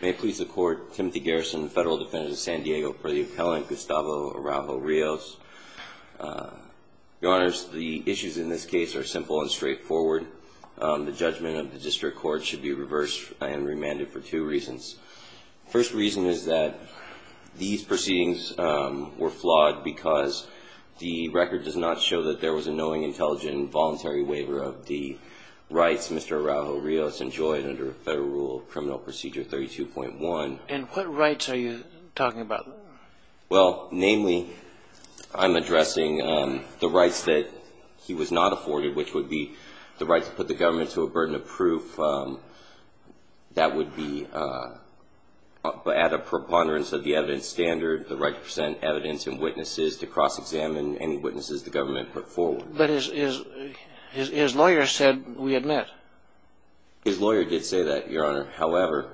May it please the Court, Timothy Garrison, Federal Defendant of San Diego, for the appellant Gustavo Araujo-Rios. Your Honors, the issues in this case are simple and straightforward. The judgment of the District Court should be reversed and remanded for two reasons. The first reason is that these proceedings were flawed because the record does not show that there was a knowing, intelligent and voluntary waiver of the rights Mr. Araujo-Rios enjoyed under Federal Rule of Criminal Procedure 32.1. And what rights are you talking about? Well, namely, I'm addressing the rights that he was not afforded, which would be the right to put the government to a burden of proof. That would be at a preponderance of the evidence standard, the right to present evidence and witnesses to cross-examine any witnesses the government put forward. But his lawyer said, we admit. His lawyer did say that, Your Honor. However,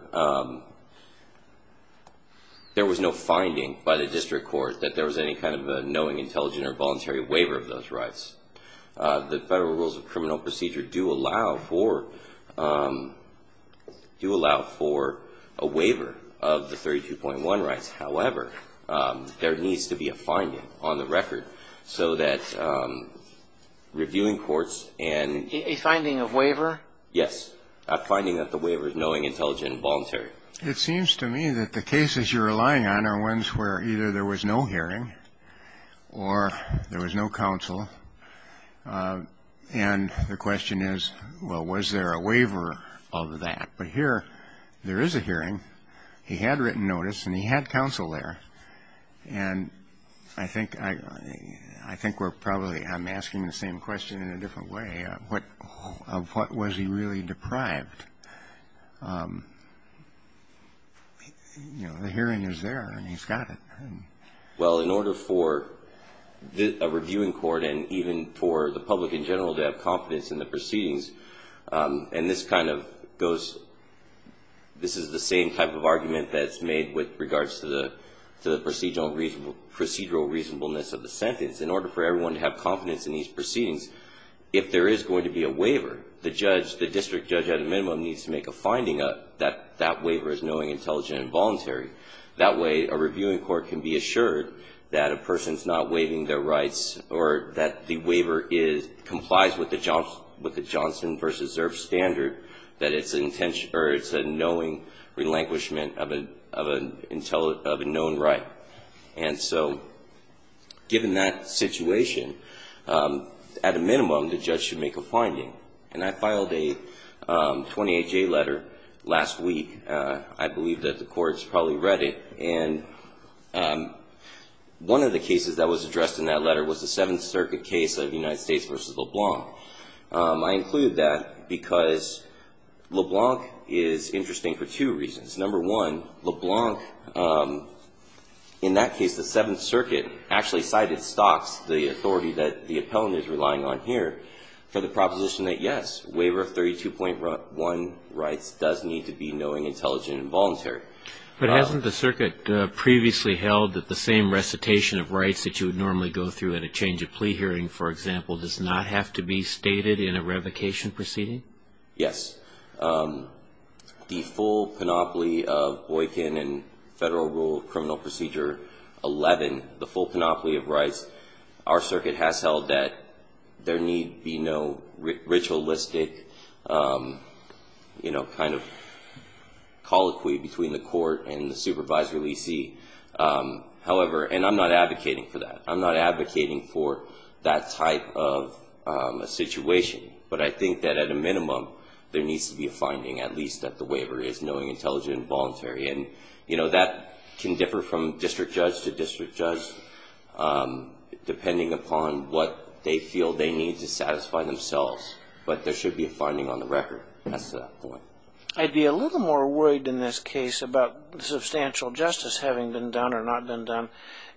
there was no finding by the District Court that there was any kind of a knowing, intelligent or voluntary waiver of those rights. The Federal Rules of Criminal Procedure do allow for a waiver of the 32.1 rights. However, there needs to be a finding on the record so that reviewing courts and… A finding of waiver? Yes, a finding that the waiver is knowing, intelligent and voluntary. It seems to me that the cases you're relying on are ones where either there was no hearing or there was no counsel. And the question is, well, was there a waiver of that? But here, there is a hearing. He had written notice, and he had counsel there. And I think we're probably – I'm asking the same question in a different way. Of what was he really deprived? You know, the hearing is there, and he's got it. Well, in order for a reviewing court and even for the public in general to have confidence in the proceedings, and this kind of goes – this is the same type of argument that's made with regards to the procedural reasonableness of the sentence. In order for everyone to have confidence in these proceedings, if there is going to be a waiver, the judge, the district judge at a minimum, needs to make a finding that that waiver is knowing, intelligent and voluntary. That way, a reviewing court can be assured that a person's not waiving their rights or that the waiver complies with the Johnson v. Zurb standard, that it's a knowing relinquishment of a known right. And so given that situation, at a minimum, the judge should make a finding. And I filed a 28-J letter last week. I believe that the courts probably read it. And one of the cases that was addressed in that letter was the Seventh Circuit case of United States v. LeBlanc. I include that because LeBlanc is interesting for two reasons. Number one, LeBlanc, in that case, the Seventh Circuit actually cited Stokes, the authority that the appellant is relying on here, for the proposition that, yes, waiver of 32.1 rights does need to be knowing, intelligent and voluntary. But hasn't the circuit previously held that the same recitation of rights that you would normally go through in a change of plea hearing, for example, does not have to be stated in a revocation proceeding? Yes. The full panoply of Boykin and Federal Rule of Criminal Procedure 11, the full panoply of rights, our circuit has held that there need be no ritualistic, you know, kind of colloquy between the court and the supervisory leasee. However, and I'm not advocating for that. I'm not advocating for that type of a situation. But I think that, at a minimum, there needs to be a finding, And, you know, that can differ from district judge to district judge, depending upon what they feel they need to satisfy themselves. But there should be a finding on the record. That's the point. I'd be a little more worried in this case about substantial justice having been done or not been done,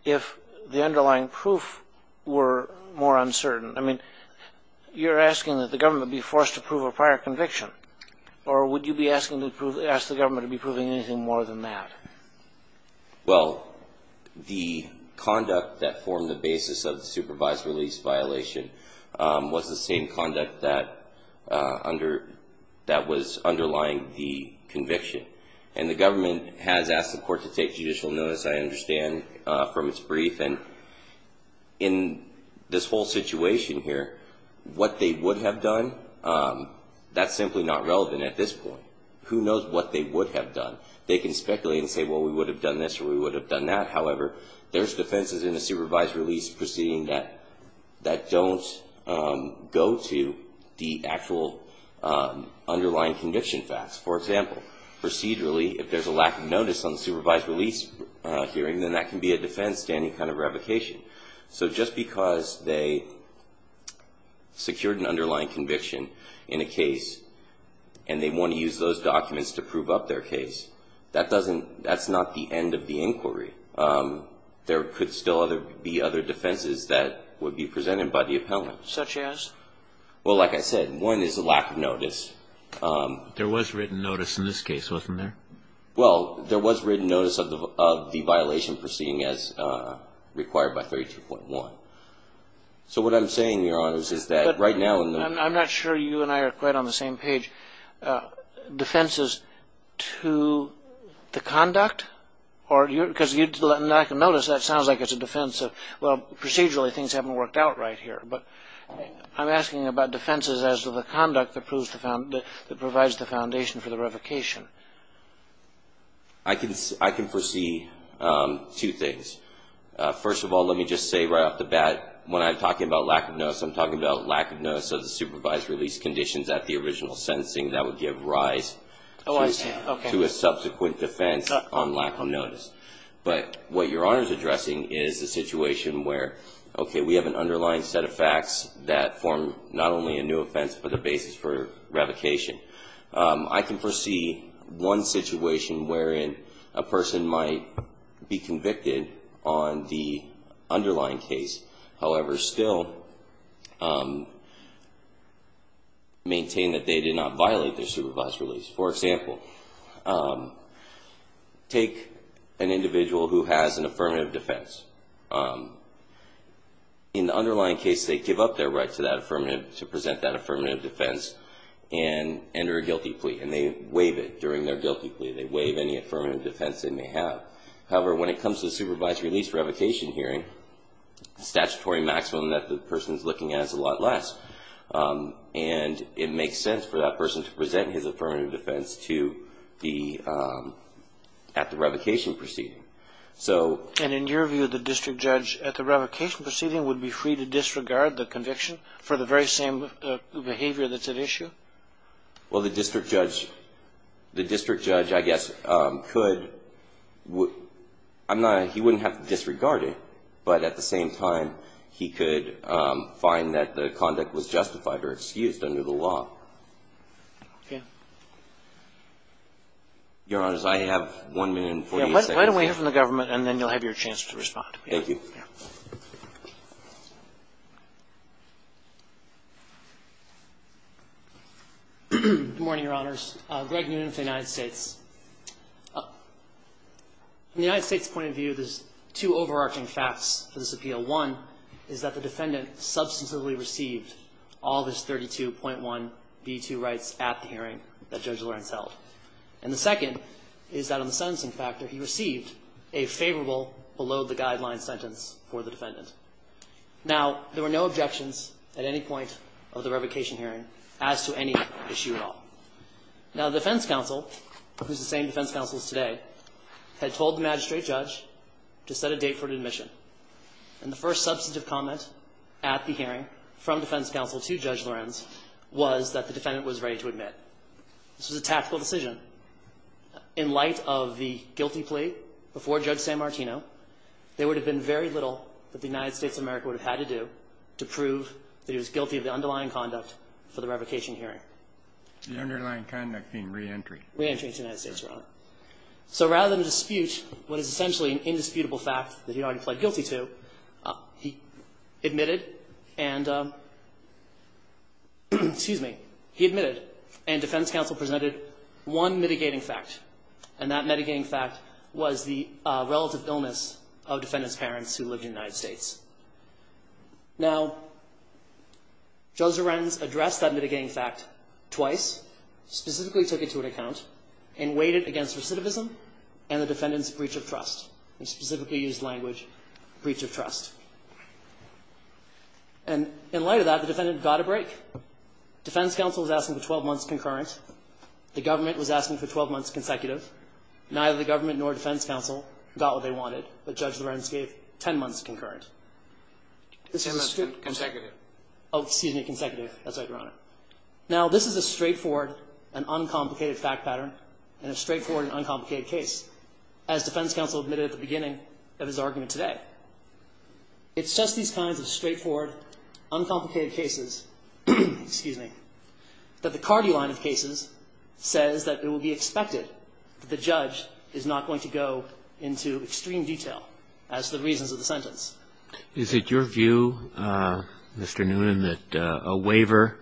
if the underlying proof were more uncertain. I mean, you're asking that the government be forced to prove a prior conviction. Or would you be asking to prove, ask the government to be proving anything more than that? Well, the conduct that formed the basis of the supervisory lease violation was the same conduct that under, that was underlying the conviction. And the government has asked the court to take judicial notice, I understand, from its brief. And in this whole situation here, what they would have done, that's simply not relevant at this point. Who knows what they would have done? They can speculate and say, well, we would have done this or we would have done that. However, there's defenses in a supervisory lease proceeding that don't go to the actual underlying conviction facts. For example, procedurally, if there's a lack of notice on the supervisory lease hearing, then that can be a defense to any kind of revocation. So just because they secured an underlying conviction in a case and they want to use those documents to prove up their case, that doesn't, that's not the end of the inquiry. There could still be other defenses that would be presented by the appellant. Such as? Well, like I said, one is a lack of notice. There was written notice in this case, wasn't there? Well, there was written notice of the violation proceeding as required by 32.1. So what I'm saying, Your Honors, is that right now in the- But I'm not sure you and I are quite on the same page. Defenses to the conduct? Or, because you let a lack of notice, that sounds like it's a defense of, well, procedurally things haven't worked out right here. But I'm asking about defenses as to the conduct that provides the foundation for the revocation. I can foresee two things. First of all, let me just say right off the bat, when I'm talking about lack of notice, I'm talking about lack of notice of the supervisory lease conditions at the original sentencing. That would give rise to a subsequent defense on lack of notice. But what Your Honors is addressing is a situation where, okay, we have an underlying set of facts that form not only a new offense, but a basis for revocation. I can foresee one situation wherein a person might be convicted on the underlying case, however, still maintain that they did not violate their supervised release. For example, take an individual who has an affirmative defense. In the underlying case, they give up their right to present that affirmative defense and enter a guilty plea. And they waive it during their guilty plea. They waive any affirmative defense they may have. However, when it comes to the supervisory lease revocation hearing, the statutory maximum that the person is looking at is a lot less. And it makes sense for that person to present his affirmative defense at the revocation proceeding. And in your view, the district judge at the revocation proceeding would be free to disregard the conviction for the very same behavior that's at issue? Well, the district judge, I guess, he wouldn't have to disregard it. But at the same time, he could find that the conduct was justified or excused under the law. Okay. Your Honors, I have 1 minute and 48 seconds. Why don't we hear from the government, and then you'll have your chance to respond. Thank you. Good morning, Your Honors. Greg Noonan from the United States. From the United States' point of view, there's two overarching facts for this appeal. One is that the defendant substantively received all of his 32.1b2 rights at the hearing that Judge Lawrence held. And the second is that on the sentencing factor, he received a favorable below-the-guideline sentence for the defendant. Now, there were no objections at any point of the revocation hearing as to any issue at all. Now, the defense counsel, who's the same defense counsel as today, had told the magistrate judge to set a date for admission. And the first substantive comment at the hearing from defense counsel to Judge Lawrence was that the defendant was ready to admit. This was a tactical decision. In light of the guilty plea before Judge San Martino, there would have been very little that the United States of America would have had to do to prove that he was guilty of the underlying conduct for the revocation hearing. The underlying conduct being re-entry. Re-entry into the United States, Your Honor. So rather than dispute what is essentially an indisputable fact that he had already pled guilty to, he admitted and, excuse me, he admitted and defense counsel presented one mitigating fact. And that mitigating fact was the relative illness of defendant's parents who lived in the United States. Now, Judge Lorenz addressed that mitigating fact twice. Specifically took it to an account and weighed it against recidivism and the defendant's breach of trust. He specifically used language, breach of trust. And in light of that, the defendant got a break. Defense counsel was asking for 12 months concurrent. The government was asking for 12 months consecutive. Neither the government nor defense counsel got what they wanted, but Judge Lorenz gave 10 months concurrent. This is a straight forward. 10 months consecutive. Oh, excuse me, consecutive. That's right, Your Honor. Now, this is a straightforward and uncomplicated fact pattern and a straightforward and uncomplicated case, as defense counsel admitted at the beginning of his argument today. It's just these kinds of straightforward, uncomplicated cases, excuse me, that the Cardi line of cases says that it will be expected that the judge is not going to go into extreme detail as to the reasons of the sentence. Is it your view, Mr. Noonan, that a waiver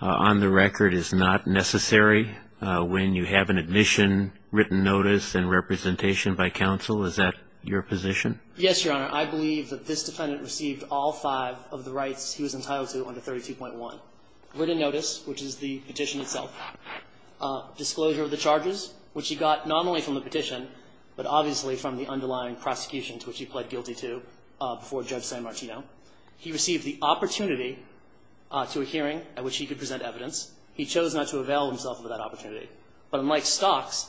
on the record is not necessary when you have an admission, written notice and representation by counsel? Is that your position? Yes, Your Honor. I believe that this defendant received all five of the rights he was entitled to under 32.1. Written notice, which is the petition itself. Disclosure of the charges, which he got not only from the petition, but obviously from the underlying prosecution to which he pled guilty to before Judge San Martino. He received the opportunity to a hearing at which he could present evidence. He chose not to avail himself of that opportunity. But unlike Stokes,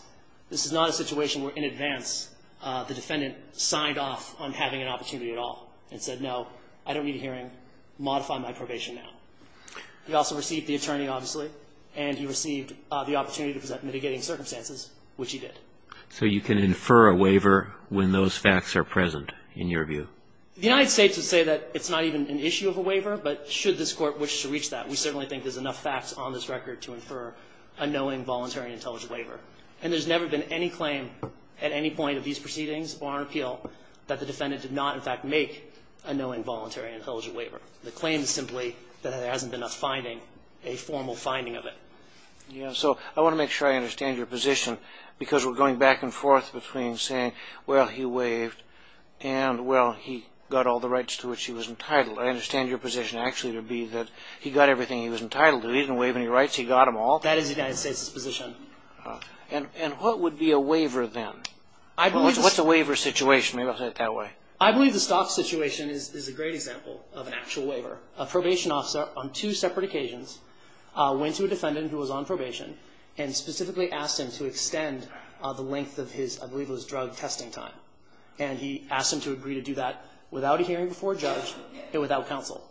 this is not a situation where in advance the defendant signed off on having an opportunity at all and said, no, I don't need a hearing. Modify my probation now. He also received the attorney, obviously, and he received the opportunity to present mitigating circumstances, which he did. So you can infer a waiver when those facts are present, in your view? The United States would say that it's not even an issue of a waiver, but should this Court wish to reach that, we certainly think there's enough facts on this record to infer a knowing, voluntary, and intelligent waiver. And there's never been any claim at any point of these proceedings, bar an appeal, that the defendant did not, in fact, make a knowing, voluntary, and intelligent waiver. The claim is simply that there hasn't been a finding, a formal finding of it. Yeah. So I want to make sure I understand your position, because we're going back and forth between saying, well, he waived, and, well, he got all the rights to which he was entitled. I understand your position actually to be that he got everything he was entitled to. He didn't waive any rights. He got them all. That is the United States' position. And what would be a waiver then? What's a waiver situation? Maybe I'll say it that way. I believe the Stokes situation is a great example of an actual waiver. A probation officer on two separate occasions went to a defendant who was on probation and specifically asked him to extend the length of his, I believe it was drug testing time. And he asked him to agree to do that without a hearing before a judge and without counsel.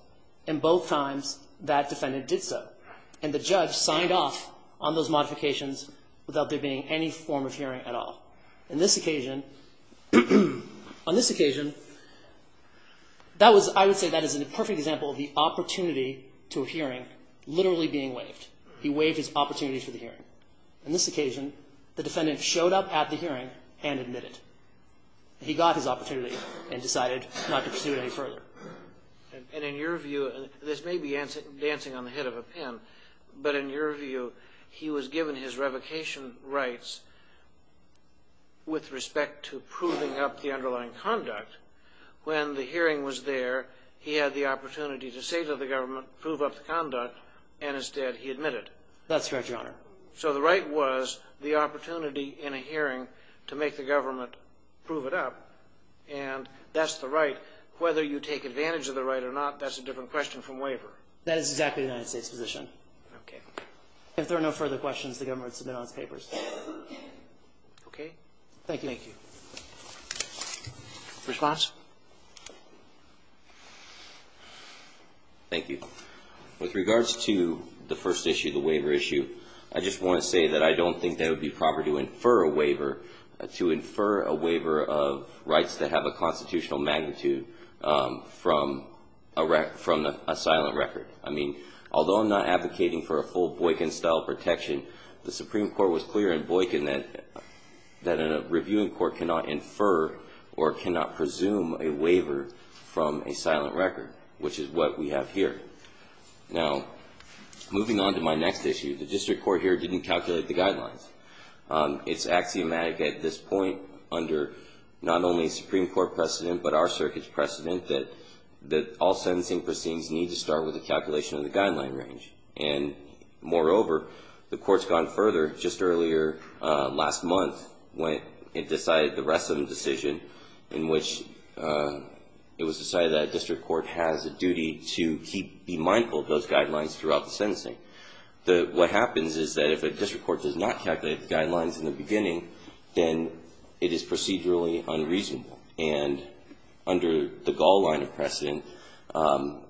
And both times, that defendant did so. And the judge signed off on those modifications without there being any form of hearing at all. In this occasion, on this occasion, that was, I would say that is a perfect example of the opportunity to a hearing literally being waived. He waived his opportunity for the hearing. On this occasion, the defendant showed up at the hearing and admitted. He got his opportunity and decided not to pursue it any further. And in your view, this may be dancing on the head of a pin, but in your view, he was given his revocation rights with respect to proving up the underlying conduct. When the hearing was there, he had the opportunity to say to the government, prove up the conduct, and instead he admitted. That's correct, Your Honor. So the right was the opportunity in a hearing to make the government prove it up. And that's the right. Whether you take advantage of the right or not, that's a different question from waiver. That is exactly the United States position. Okay. If there are no further questions, the government should announce papers. Okay. Thank you. Thank you. Response? Thank you. With regards to the first issue, the waiver issue, I just want to say that I don't think that it would be proper to infer a waiver, to infer a waiver of rights that have a constitutional magnitude from a silent record. I mean, although I'm not advocating for a full Boykin-style protection, the Supreme Court was clear in Boykin that a reviewing court cannot infer or cannot presume a waiver from a silent record, which is what we have here. Now, moving on to my next issue, the district court here didn't calculate the guidelines. It's axiomatic at this point under not only Supreme Court precedent but our circuit's precedent that all sentencing proceedings need to start with a calculation of the guideline range. And moreover, the Court's gone further just earlier last month when it decided the rest of the decision in which it was decided that a district court has a duty to be mindful of those guidelines throughout the sentencing. What happens is that if a district court does not calculate the guidelines in the beginning, then it is procedurally unreasonable. And under the Gall line of precedent, that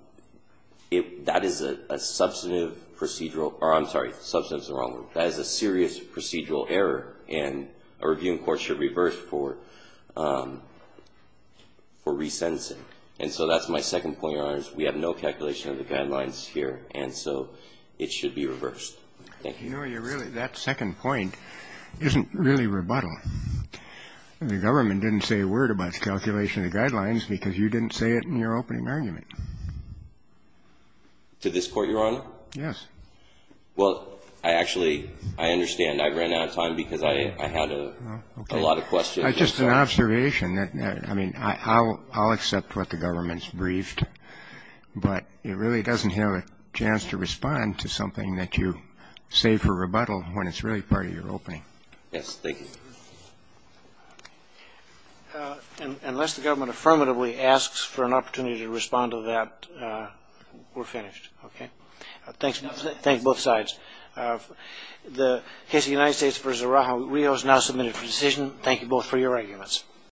is a substantive procedural or, I'm sorry, substantive is the wrong word. That is a serious procedural error, and a reviewing court should reverse for re-sentencing. And so that's my second point, Your Honors. We have no calculation of the guidelines here, and so it should be reversed. Thank you. And, Your Honor, that second point isn't really rebuttal. The government didn't say a word about the calculation of the guidelines because you didn't say it in your opening argument. To this Court, Your Honor? Yes. Well, I actually, I understand. I ran out of time because I had a lot of questions. It's just an observation. I mean, I'll accept what the government's briefed, but it really doesn't have a chance to respond to something that you say for rebuttal when it's really part of your opening. Yes. Thank you. Unless the government affirmatively asks for an opportunity to respond to that, we're finished. Okay? Thanks, both sides. The case of the United States v. Araujo-Rios now submitted for decision. Thank you both for your arguments.